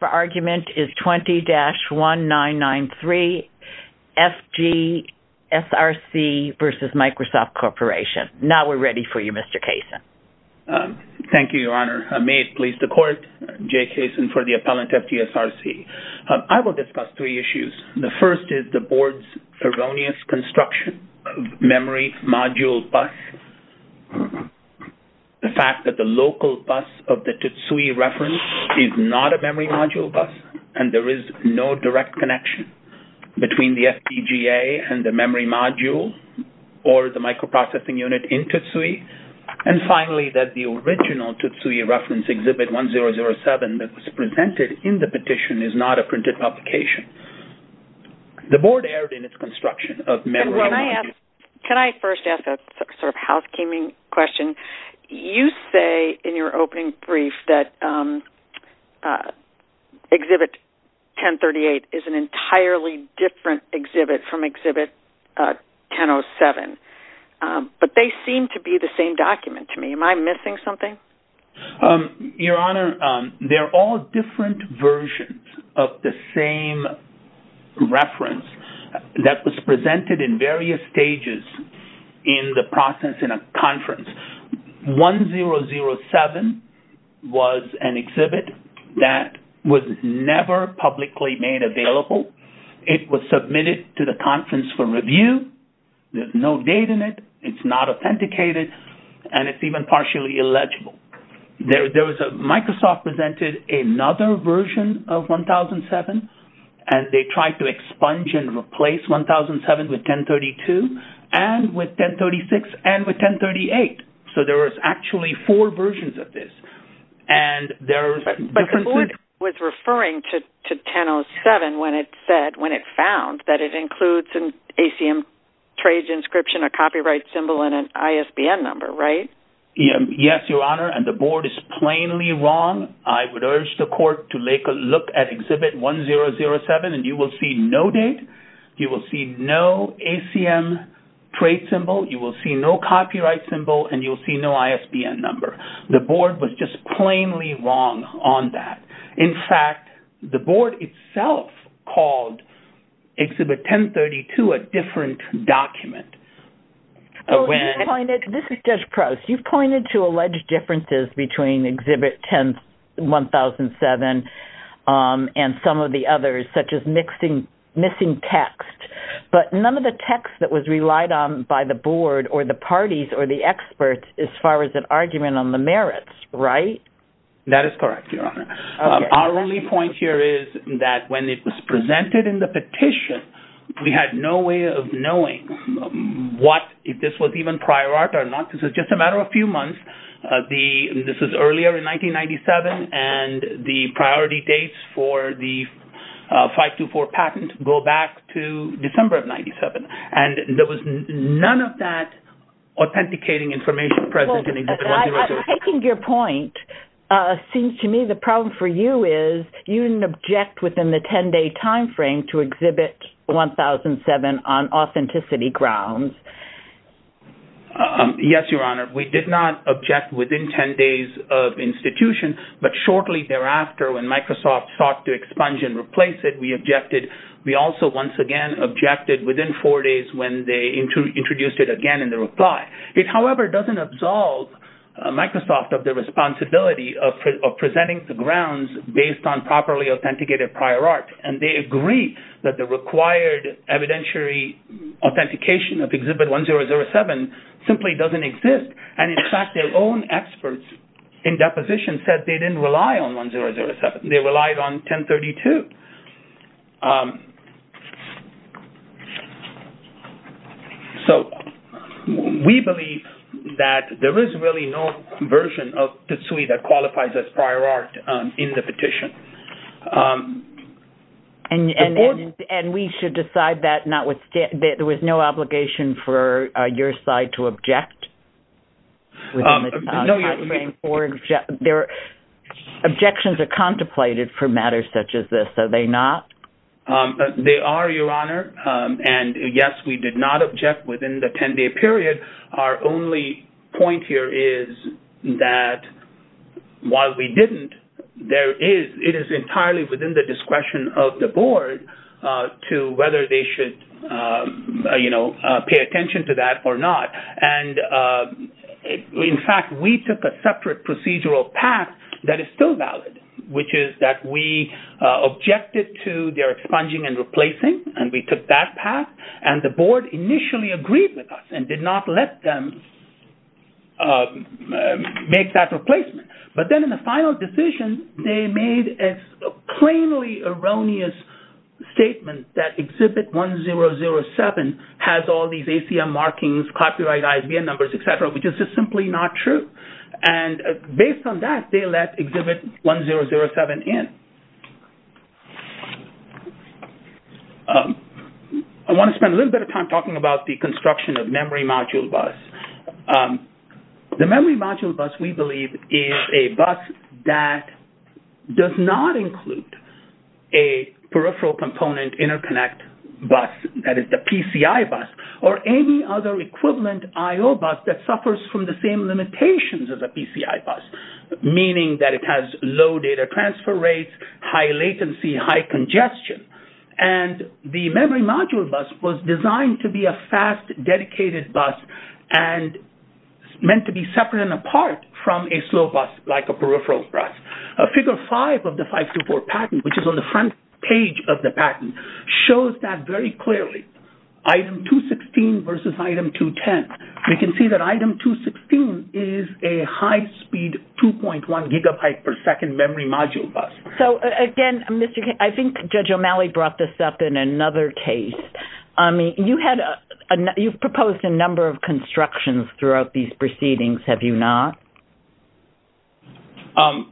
The argument is 20-1993 FG SRC v. Microsoft Corporation. Now we're ready for you, Mr. Kaysen. Thank you, Your Honor. May it please the court, Jay Kaysen for the appellant FG SRC. I will discuss three issues. The first is the board's erroneous construction of memory module bus. The fact that the local bus of the TSUI reference is not a memory module bus, and there is no direct connection between the FPGA and the memory module or the microprocessing unit in TSUI. And finally, that the original TSUI reference Exhibit 1007 that was presented in the petition is not a printed publication. The board erred in its construction of memory module bus. Can I first ask a sort of housekeeping question? You say in your opening brief that Exhibit 1038 is an entirely different exhibit from Exhibit 1007. But they seem to be the same document to me. Am I missing something? Your Honor, they're all different versions of the same reference that was presented in Exhibit 1007 was an exhibit that was never publicly made available. It was submitted to the conference for review. There's no date in it. It's not authenticated. And it's even partially illegible. There was a Microsoft presented another version of 1007, and they there was actually four versions of this. And there are differences. But the board was referring to 1007 when it said, when it found that it includes an ACM trade inscription, a copyright symbol, and an ISBN number, right? Yes, Your Honor, and the board is plainly wrong. I would urge the court to take a look at Exhibit 1007, and you will see no date. You will see no ACM trade symbol. You will see no copyright symbol, and you will see no ISBN number. The board was just plainly wrong on that. In fact, the board itself called Exhibit 1032 a different document. This is Judge Prowse. You've pointed to alleged differences between Exhibit 1007 and some of the others, such as missing text. But none of the text that was relied on by the board or the parties or the experts as far as an argument on the merits, right? That is correct, Your Honor. Our only point here is that when it was presented in the petition, we had no way of knowing what if this was even prior art or not. This was just a matter of a few months. This was earlier in 1997, and the priority dates for the 524 patent go back to December of 1997. And there was none of that authenticating information present in Exhibit 1007. Well, I think your point seems to me the problem for you is you didn't object within the 10-day time frame to Exhibit 1007 on authenticity grounds. Yes, Your Honor. We did not object within 10 days of institution, but shortly thereafter when Microsoft sought to expunge and replace it, we objected. We also once again objected within four days when they introduced it again in the reply. It, however, doesn't absolve Microsoft of the responsibility of presenting the grounds based on properly authenticated prior art. And they agree that the required evidentiary authentication of Exhibit 1007 simply doesn't exist. And in fact, their own experts in deposition said they didn't rely on Exhibit 1007. They relied on Exhibit 1032. So we believe that there is really no version of TSUI that qualifies as prior art in the petition. And we should decide that not with – there was no obligation for your side to object within the time frame for – objections are contemplated for matters such as this. Are they not? They are, Your Honor. And yes, we did not object within the 10-day period. Our only point here is that while we didn't, there is – it is entirely within the discretion of the board to whether they should, you know, pay attention to that or not. And in fact, we took a separate procedural path that is still valid, which is that we objected to their expunging and replacing. And we took that path. And the board initially agreed with us and did not let them make that replacement. But then in the final decision, they made a plainly erroneous statement that Exhibit 1007 has all these ACM markings, copyright ISBN numbers, et cetera, which is just simply not true. And based on that, they let Exhibit 1007 in. I want to spend a little bit of time talking about the construction of memory module bus. The memory module bus, we believe, is a bus that does not include a peripheral component interconnect bus, that is the PCI bus, or any other equivalent I.O. bus that suffers from the same limitations as a PCI bus, meaning that it has low data transfer rates, high latency, high congestion. And the memory module bus was designed to be a fast, dedicated bus and meant to be separate and apart from a slow bus like a peripheral bus. Figure 5 of the 524 patent, which is on the front page of the patent, shows that very clearly. Item 216 versus item 210. We can see that item 216 is a high-speed 2.1 gigabyte per second memory module bus. So again, I think Judge O'Malley brought this up in another case. You've proposed a number of constructions throughout these proceedings, have you not?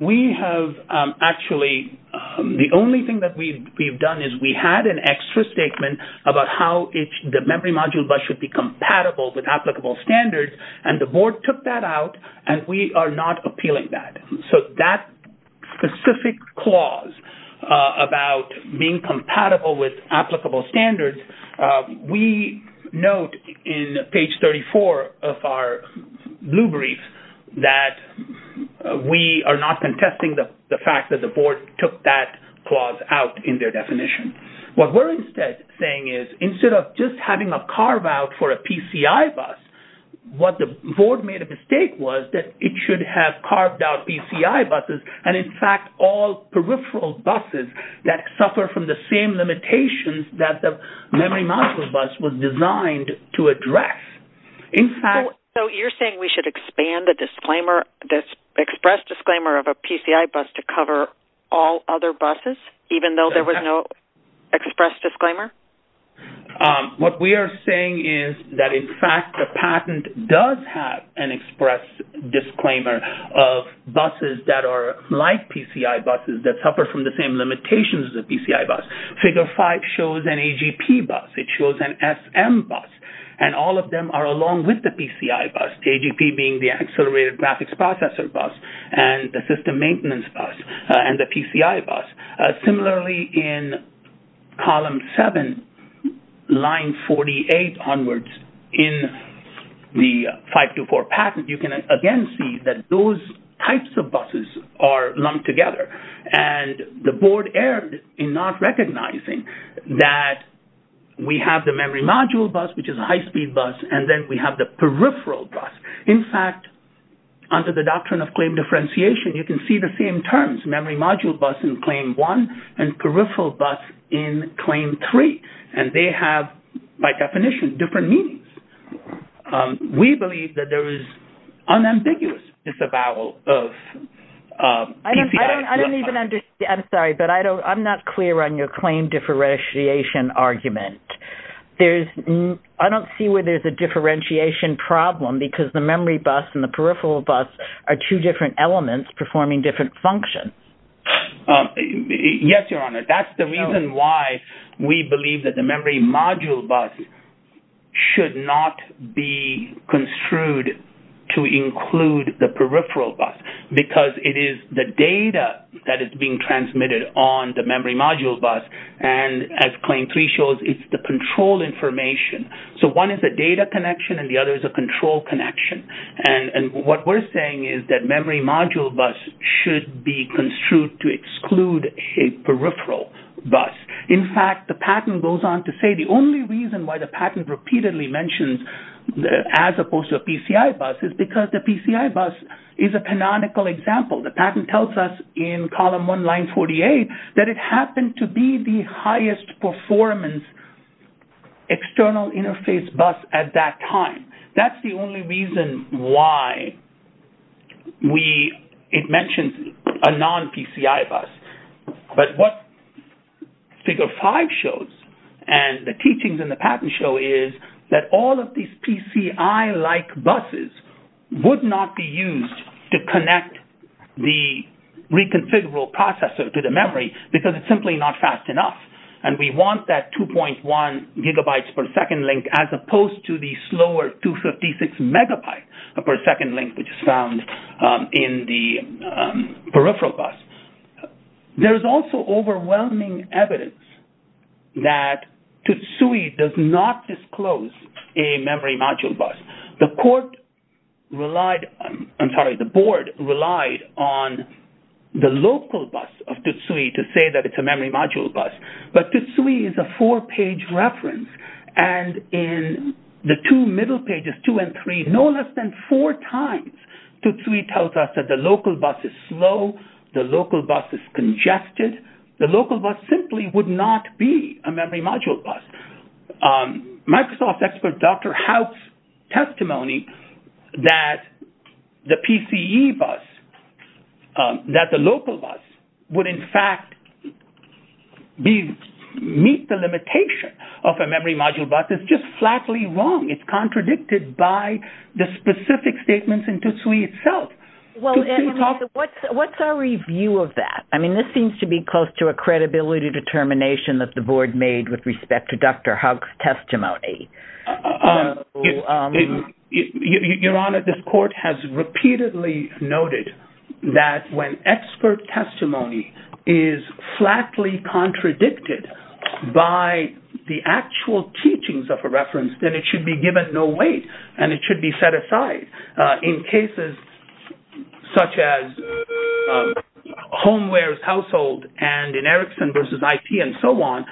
We have, actually, the only thing that we've done is we had an extra statement about how the memory module bus should be compatible with applicable standards, and the Board took that out, and we are not appealing that. So that specific clause about being compatible with applicable standards, we note in page 34 of our blue brief that we are not contesting the fact that the Board took that clause out in their definition. What we're instead saying is instead of just having a carve-out for a PCI bus, what the Board made a mistake was that it should have carved out PCI buses and, in fact, all peripheral buses that suffer from the same limitations that the memory module bus was designed to address. So you're saying we should expand the express disclaimer of a PCI bus to cover all other buses, even though there was no express disclaimer? What we are saying is that, in fact, the patent does have an express disclaimer of buses that are like PCI buses that suffer from the same limitations as a PCI bus. Figure 5 shows an AGP bus. It shows an SM bus, and all of them are along with the PCI bus, AGP being the accelerated graphics processor bus, and the system maintenance bus, and the PCI bus. Similarly, in column 7, line 48 onwards in the 524 patent, you can again see that those types of buses are lumped together. And the Board erred in not recognizing that we have the memory module bus, which is a high-speed bus, and then we have the peripheral bus. In fact, under the doctrine of claim differentiation, you can see the same terms, memory module bus in claim 1 and peripheral bus in claim 3. And they have, by definition, different meanings. We believe that there is unambiguous disavowal of PCI. I don't even understand. I'm sorry, but I'm not clear on your claim differentiation argument. I don't see where there's a differentiation problem because the memory bus and the peripheral bus are two different elements performing different functions. Yes, Your Honor. That's the reason why we believe that the memory module bus should not be construed to include the peripheral bus, because it is the data that is being transmitted on the memory module bus. And as claim 3 shows, it's the control information. So one is a data connection, and the other is a control connection. And what we're saying is that memory module bus should be construed to exclude a peripheral bus. In fact, the patent goes on to say the only reason why the patent repeatedly mentions as opposed to a PCI bus is because the PCI bus is a canonical example. The patent tells us in column 1, line 48, that it happened to be the highest performance external interface bus at that time. That's the only reason why it mentions a non-PCI bus. But what figure 5 shows and the teachings in the patent show is that all of these PCI-like buses would not be used to connect the reconfigurable processor to the memory because it's simply not fast enough. And we want that 2.1 gigabytes per second link as opposed to the slower 256 megabytes per second link, which is found in the peripheral bus. There is also overwhelming evidence that TSUI does not disclose a memory module bus. The court relied, I'm sorry, the board relied on the local bus of TSUI to say that it's a memory module bus. But TSUI is a four-page reference. And in the two middle pages, 2 and 3, no less than four times, TSUI tells us that the local bus is slow. The local bus is congested. The local bus simply would not be a memory module bus. Microsoft expert Dr. Howe's testimony that the PCE bus, that the local bus, would in fact meet the limitation of a memory module bus is just flatly wrong. It's contradicted by the specific statements in TSUI itself. What's our review of that? I mean, this seems to be close to a credibility determination that the board made with respect to Dr. Howe's testimony. Your Honor, this court has repeatedly noted that when expert testimony is flatly contradicted by the actual teachings of a reference, then it should be given no weight and it should be set aside. In cases such as Homeware's household and in Erickson versus IP and so on,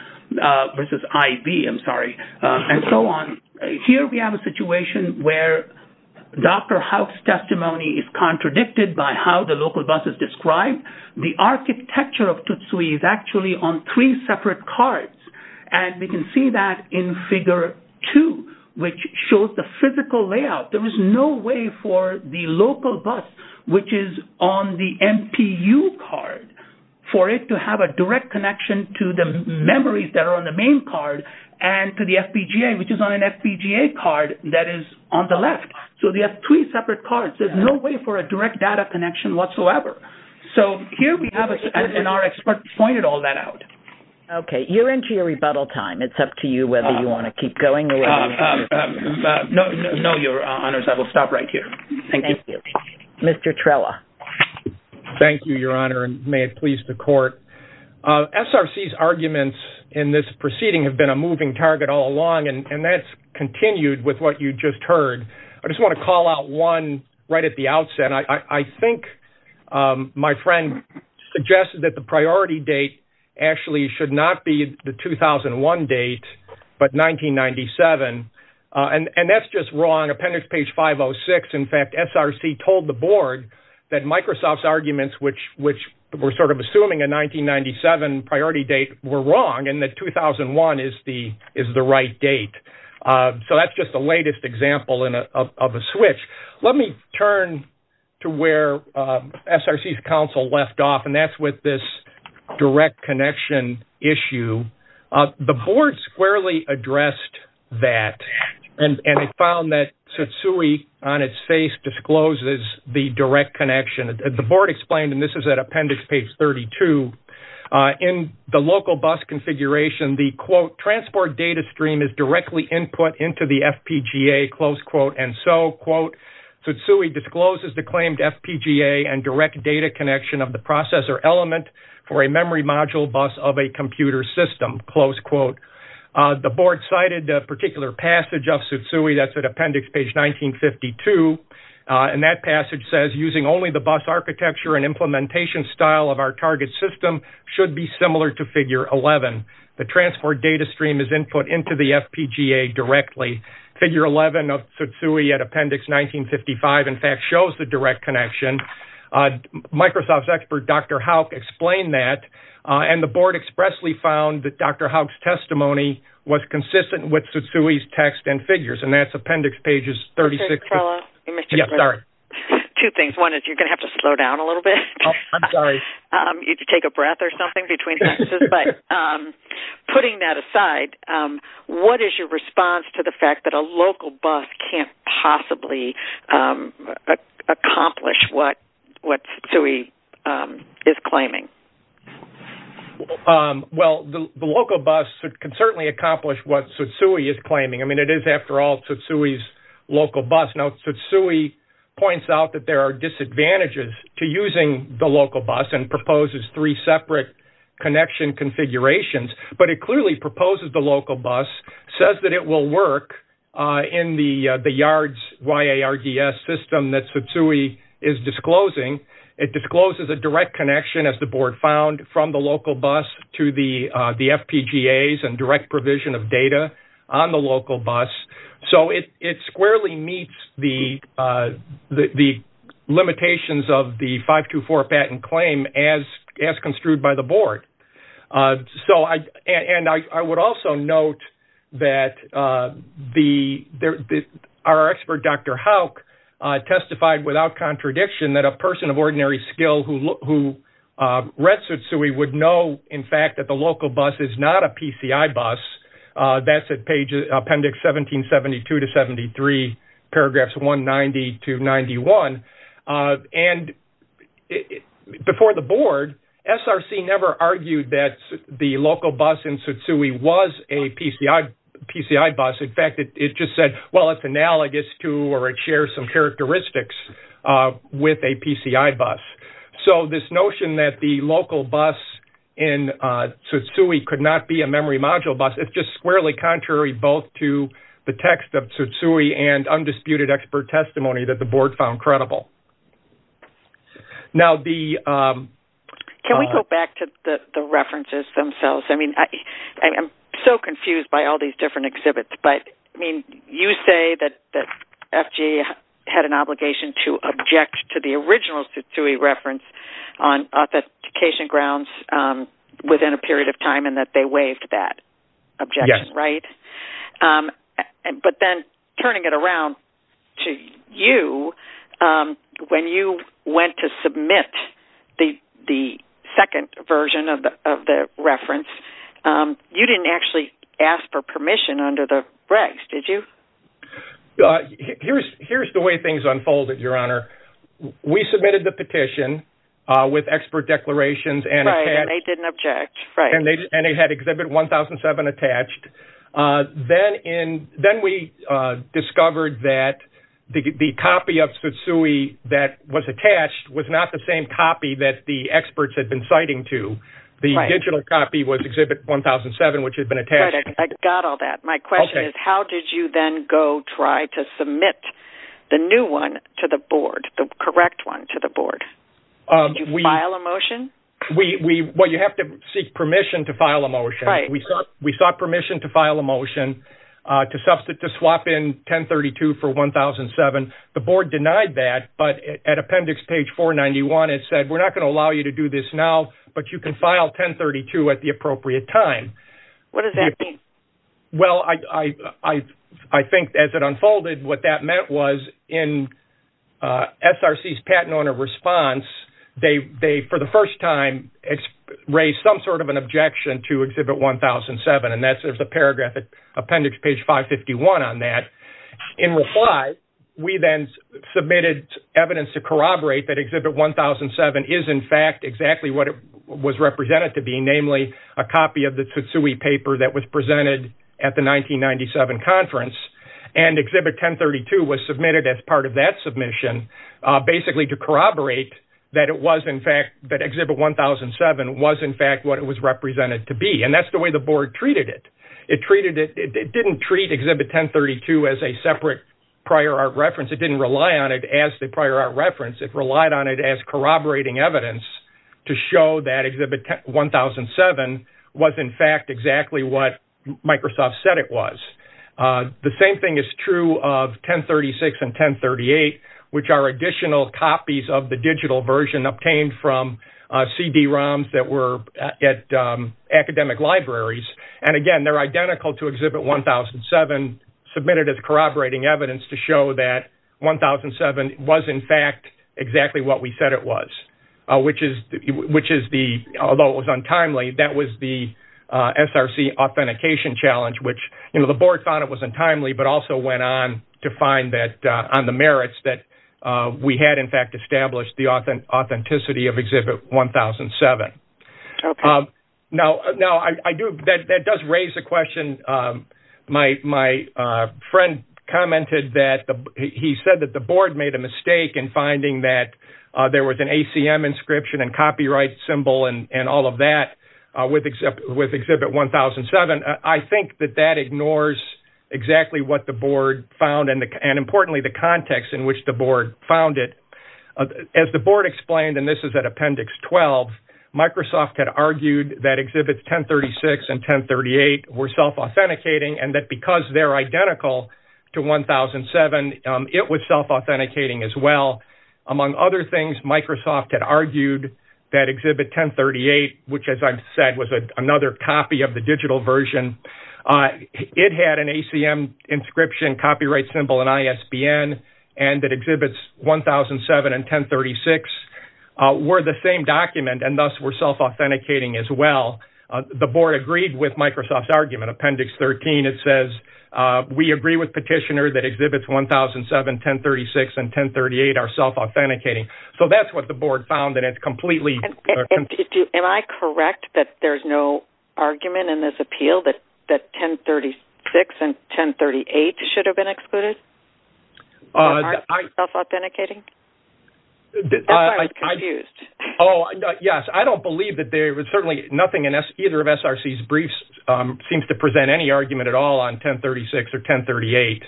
versus IB, I'm sorry, and so on, here we have a situation where Dr. Howe's testimony is contradicted by how the local bus is described. The architecture of TSUI is actually on three separate cards. And we can see that in Figure 2, which shows the physical layout. There is no way for the local bus, which is on the MPU card, for it to have a direct connection to the memories that are on the main card and to the FPGA, which is on an FPGA card that is on the left. So they have three separate cards. There's no way for a direct data connection whatsoever. So here we have, and our expert pointed all that out. Okay. You're into your rebuttal time. It's up to you whether you want to keep going or whether you want to leave. No, your honors, I will stop right here. Thank you. Mr. Trella. Thank you, your honor, and may it please the court. SRC's arguments in this proceeding have been a moving target all along, and that's continued with what you just heard. I just want to call out one right at the outset. I think my friend suggested that the priority date actually should not be the 2001 date, but 1997, and that's just wrong. Appendix page 506. In fact, SRC told the board that Microsoft's arguments, which we're sort of assuming a 1997 priority date were wrong, and that 2001 is the right date. So that's just the latest example of a switch. Let me turn to where SRC's counsel left off, and that's with this direct connection issue. The board squarely addressed that, and it found that Tsutsui on its face discloses the direct connection. The board explained, and this is at appendix page 32, in the local bus configuration, the, quote, transport data stream is directly input into the FPGA, close quote, and so, quote, Tsutsui discloses the claimed FPGA and direct data connection of the processor element for a memory module bus of a computer system, close quote. The board cited a particular passage of Tsutsui. That's at appendix page 1952, and that passage says, using only the bus architecture and implementation style of our target system should be similar to figure 11. The transport data stream is input into the FPGA directly. Figure 11 of Tsutsui at appendix 1955, in fact, shows the direct connection. A Microsoft expert, Dr. Hauk, explained that, and the board expressly found that Dr. Hauk's testimony was consistent with Tsutsui's text and figures, and that's appendix page 36. Mr. Trello? Yes, sorry. Two things. One is you're going to have to slow down a little bit. Oh, I'm sorry. You need to take a breath or something between sentences. But putting that aside, what is your response to the fact that a local bus can't possibly accomplish what Tsutsui is claiming? Well, the local bus can certainly accomplish what Tsutsui is claiming. I mean, it is, after all, Tsutsui's local bus. Now, Tsutsui points out that there are disadvantages to using the local bus and proposes three separate connection configurations. But it clearly proposes the local bus, says that it will work in the YARDS system that Tsutsui is disclosing. It discloses a direct connection, as the board found, from the local bus to the FPGAs and direct provision of data on the local bus. So it squarely meets the limitations of the 524 patent claim as construed by the board. And I would also note that our expert, Dr. Hauk, testified without contradiction that a person of ordinary skill who read Tsutsui would know, in fact, that the local bus is not a PCI bus. That's at appendix 1772 to 73, paragraphs 190 to 91. And before the board, SRC never argued that the local bus in Tsutsui was a PCI bus. In fact, it just said, well, it's analogous to or it shares some characteristics with a PCI bus. So this notion that the local bus in Tsutsui could not be a memory module bus, it's just squarely contrary both to the text of Tsutsui and undisputed expert testimony that the board found credible. Now, the... Can we go back to the references themselves? I mean, I'm so confused by all these different exhibits. But, I mean, you say that FGA had an obligation to object to the original Tsutsui reference on authentication grounds within a period of time and that they waived that objection, right? And but then turning it around to you, when you went to submit the second version of the reference, you didn't actually ask for permission under the regs, did you? Here's the way things unfolded, Your Honor. We submitted the petition with expert declarations and... Right, and they didn't object, right. And they had Exhibit 1007 attached. Then we discovered that the copy of Tsutsui that was attached was not the same copy that the experts had been citing to. The digital copy was Exhibit 1007, which had been attached. I got all that. My question is, how did you then go try to submit the new one to the board, the correct one to the board? Did you file a motion? Well, you have to seek permission to file a motion. We sought permission to file a motion to swap in 1032 for 1007. The board denied that, but at appendix page 491, it said, we're not going to allow you to do this now, but you can file 1032 at the appropriate time. What does that mean? Well, I think as it unfolded, what that meant was in SRC's patent owner response, they, for the first time, raised some sort of an objection to Exhibit 1007, and there's a paragraph at appendix page 551 on that. In reply, we then submitted evidence to corroborate that Exhibit 1007 is in fact exactly what it was represented to be, namely a copy of the Tsutsui paper that was presented at the 1997 conference. And Exhibit 1032 was submitted as part of that submission, basically to corroborate that it was in fact, that Exhibit 1007 was in fact what it was represented to be. And that's the way the board treated it. It treated it, it didn't treat Exhibit 1032 as a separate prior art reference. It didn't rely on it as the prior art reference. It relied on it as corroborating evidence to show that Exhibit 1007 was in fact exactly what Microsoft said it was. The same thing is true of 1036 and 1038, which are additional copies of the digital version obtained from CD-ROMs that were at academic libraries. And again, they're identical to Exhibit 1007 submitted as corroborating evidence to show that 1007 was in fact exactly what we said it was, which is the, although it was untimely, that was the SRC authentication challenge, which, you know, the board thought it was untimely, but also went on to find that on the merits that we had in fact established the authenticity of Exhibit 1007. Now, I do, that does raise a question. My friend commented that he said that the board made a mistake in finding that there was an ACM inscription and copyright symbol and all of that with Exhibit 1007. I think that that ignores exactly what the board found and, importantly, the context in which the board found it. As the board explained, and this is at Appendix 12, Microsoft had argued that Exhibits 1036 and 1038 were self-authenticating and that because they're identical to 1007, it was self-authenticating as well. Among other things, Microsoft had argued that Exhibit 1038, which, as I've said, was another copy of the digital version, it had an ACM inscription, copyright symbol, and ISBN, and that Exhibits 1007 and 1036 were the same document and thus were self-authenticating as well. The board agreed with Microsoft's argument. It says, we agree with Petitioner that Exhibits 1007, 1036, and 1038 are self-authenticating. So that's what the board found, and it's completely- Am I correct that there's no argument in this appeal that 1036 and 1038 should have been excluded? Self-authenticating? Oh, yes, I don't believe that there was certainly nothing in either of SRC's briefs seems to present any argument at all on 1036 or 1038.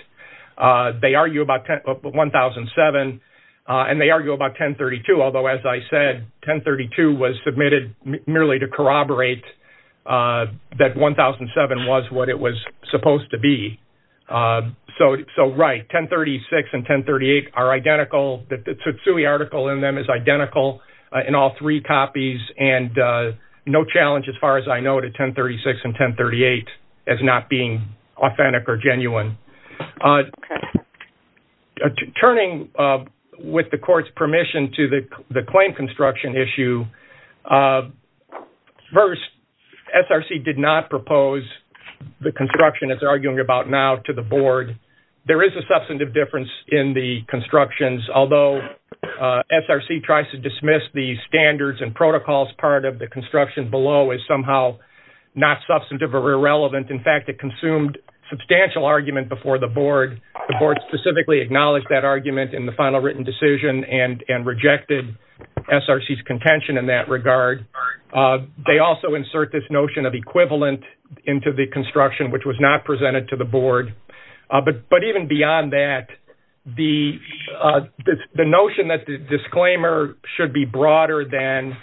They argue about 1007, and they argue about 1032, although, as I said, 1032 was submitted merely to corroborate that 1007 was what it was supposed to be. So, right, 1036 and 1038 are identical. The Tsutsui article in them is identical in all three copies, and no challenge, as far as I know, to 1036 and 1038 as not being authentic or genuine. Turning with the court's permission to the claim construction issue, first, SRC did not propose the construction it's arguing about now to the board. There is a substantive difference in the constructions, although SRC tries to dismiss the standards and protocols part of the construction below as somehow not substantive or irrelevant. In fact, it consumed substantial argument before the board. The board specifically acknowledged that argument in the final written decision and rejected SRC's contention in that regard. They also insert this notion of equivalent into the construction, which was not presented to the board. But even beyond that, the notion that the disclaimer should be broader than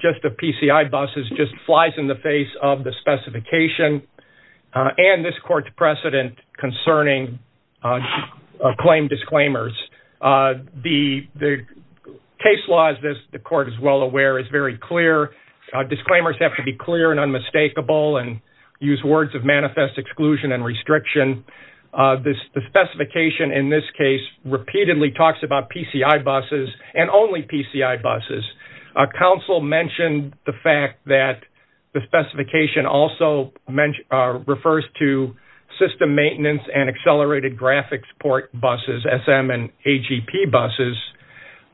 just the PCI buses just flies in the face of the specification and this court's precedent concerning claim disclaimers. The case law, as the court is well aware, is very clear. Disclaimers have to be clear and unmistakable and use words of manifest exclusion and restriction. The specification in this case repeatedly talks about PCI buses and only PCI buses. Council mentioned the fact that the specification also refers to system maintenance and accelerated graphics port buses, SM and AGP buses.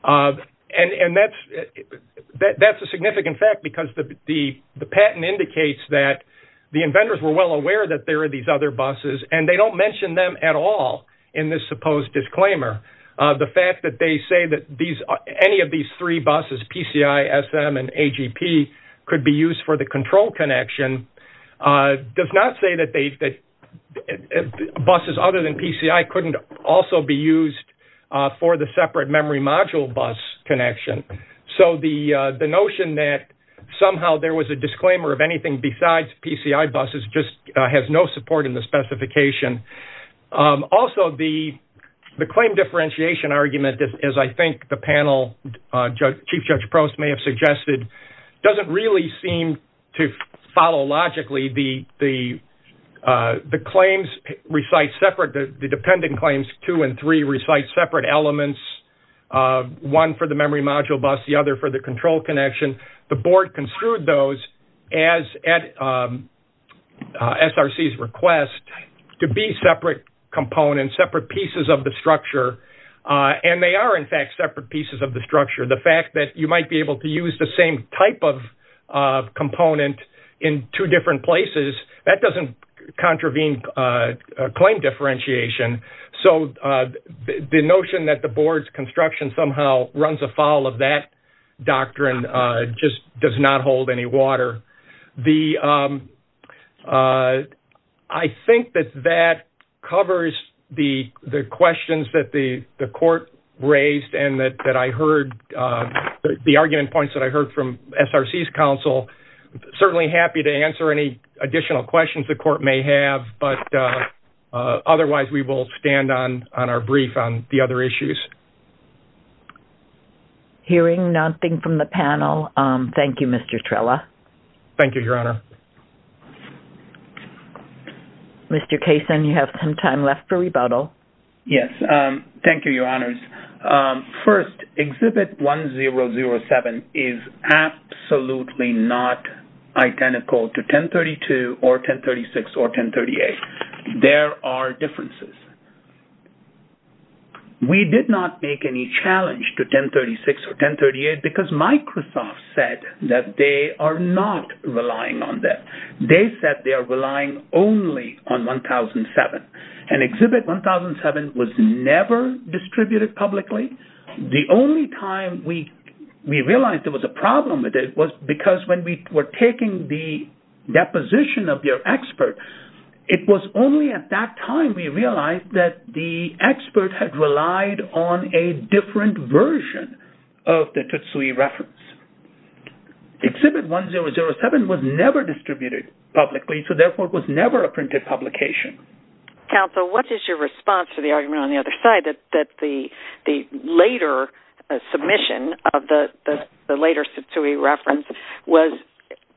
And that's a significant fact because the patent indicates that the inventors were well mentioned them at all in this supposed disclaimer. The fact that they say that any of these three buses, PCI, SM, and AGP could be used for the control connection does not say that buses other than PCI couldn't also be used for the separate memory module bus connection. So the notion that somehow there was a disclaimer of anything besides PCI buses just has no support in the specification. Also, the claim differentiation argument, as I think the panel, Chief Judge Prost may have suggested, doesn't really seem to follow logically. The claims recite separate, the dependent claims two and three recite separate elements, one for the memory module bus, the other for the control connection. The board construed those as at SRC's request to be separate components, separate pieces of the structure. And they are, in fact, separate pieces of the structure. The fact that you might be able to use the same type of component in two different places, that doesn't contravene claim differentiation. So the notion that the board's construction somehow runs afoul of that doctrine just does not hold any water. I think that that covers the questions that the court raised and that I heard, the argument points that I heard from SRC's counsel. Certainly happy to answer any additional questions the court may have. But otherwise, we will stand on our brief on the other issues. Hearing nothing from the panel, thank you, Mr. Trella. Thank you, Your Honor. Mr. Kaysen, you have some time left for rebuttal. Yes. Thank you, Your Honors. First, Exhibit 1007 is absolutely not identical to 1032 or 1036 or 1038. There are differences. We did not make any challenge to 1036 or 1038 because Microsoft said that they are not relying on that. They said they are relying only on 1007. And Exhibit 1007 was never distributed publicly. The only time we realized there was a problem with it was because when we were taking the deposition of your expert, it was only at that time we realized that the expert had relied on a different version of the Tutsui reference. Exhibit 1007 was never distributed publicly, so therefore it was never a printed publication. What is your response to the argument on the other side that the later submission of the later Tutsui reference was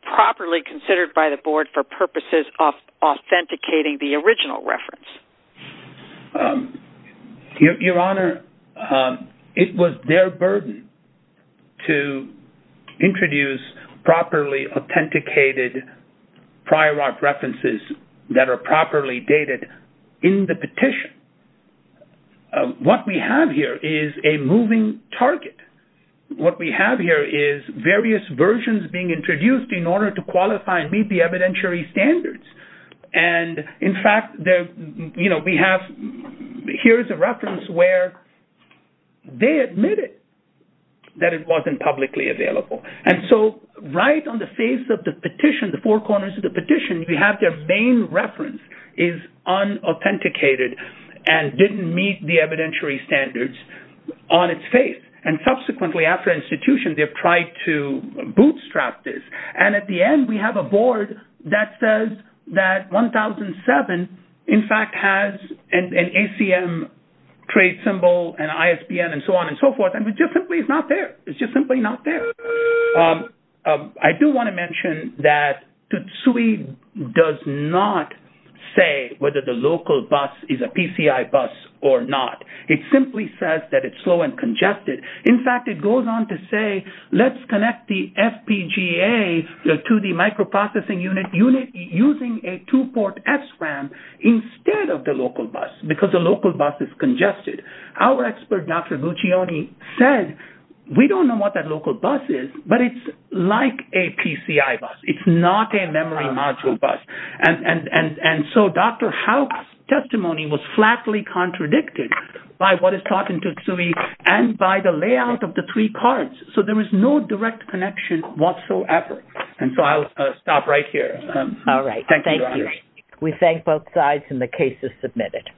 properly considered by the Board for purposes of authenticating the original reference? Your Honor, it was their burden to introduce properly authenticated prior art references that are properly dated in the petition. What we have here is a moving target. What we have here is various versions being introduced in order to qualify and meet the evidentiary standards. And in fact, you know, we have here is a reference where they admitted that it wasn't publicly available. And so right on the face of the petition, the four corners of the petition, we have their main reference is unauthenticated and didn't meet the evidentiary standards on its face. And subsequently, after institution, they've tried to bootstrap this. And at the end, we have a board that says that 1007, in fact, has an ACM trade symbol and ISBN and so on and so forth. And it's just simply not there. It's just simply not there. And I do want to mention that TSUI does not say whether the local bus is a PCI bus or not. It simply says that it's slow and congested. In fact, it goes on to say, let's connect the FPGA to the microprocessing unit using a two-port SRAM instead of the local bus because the local bus is congested. Our expert, Dr. Guccione, said, we don't know what that local bus is, but it's like a PCI bus. It's not a memory module bus. And so Dr. Howe's testimony was flatly contradicted by what is taught in TSUI and by the layout of the three cards. So there is no direct connection whatsoever. And so I'll stop right here. All right. Thank you. We thank both sides and the case is submitted.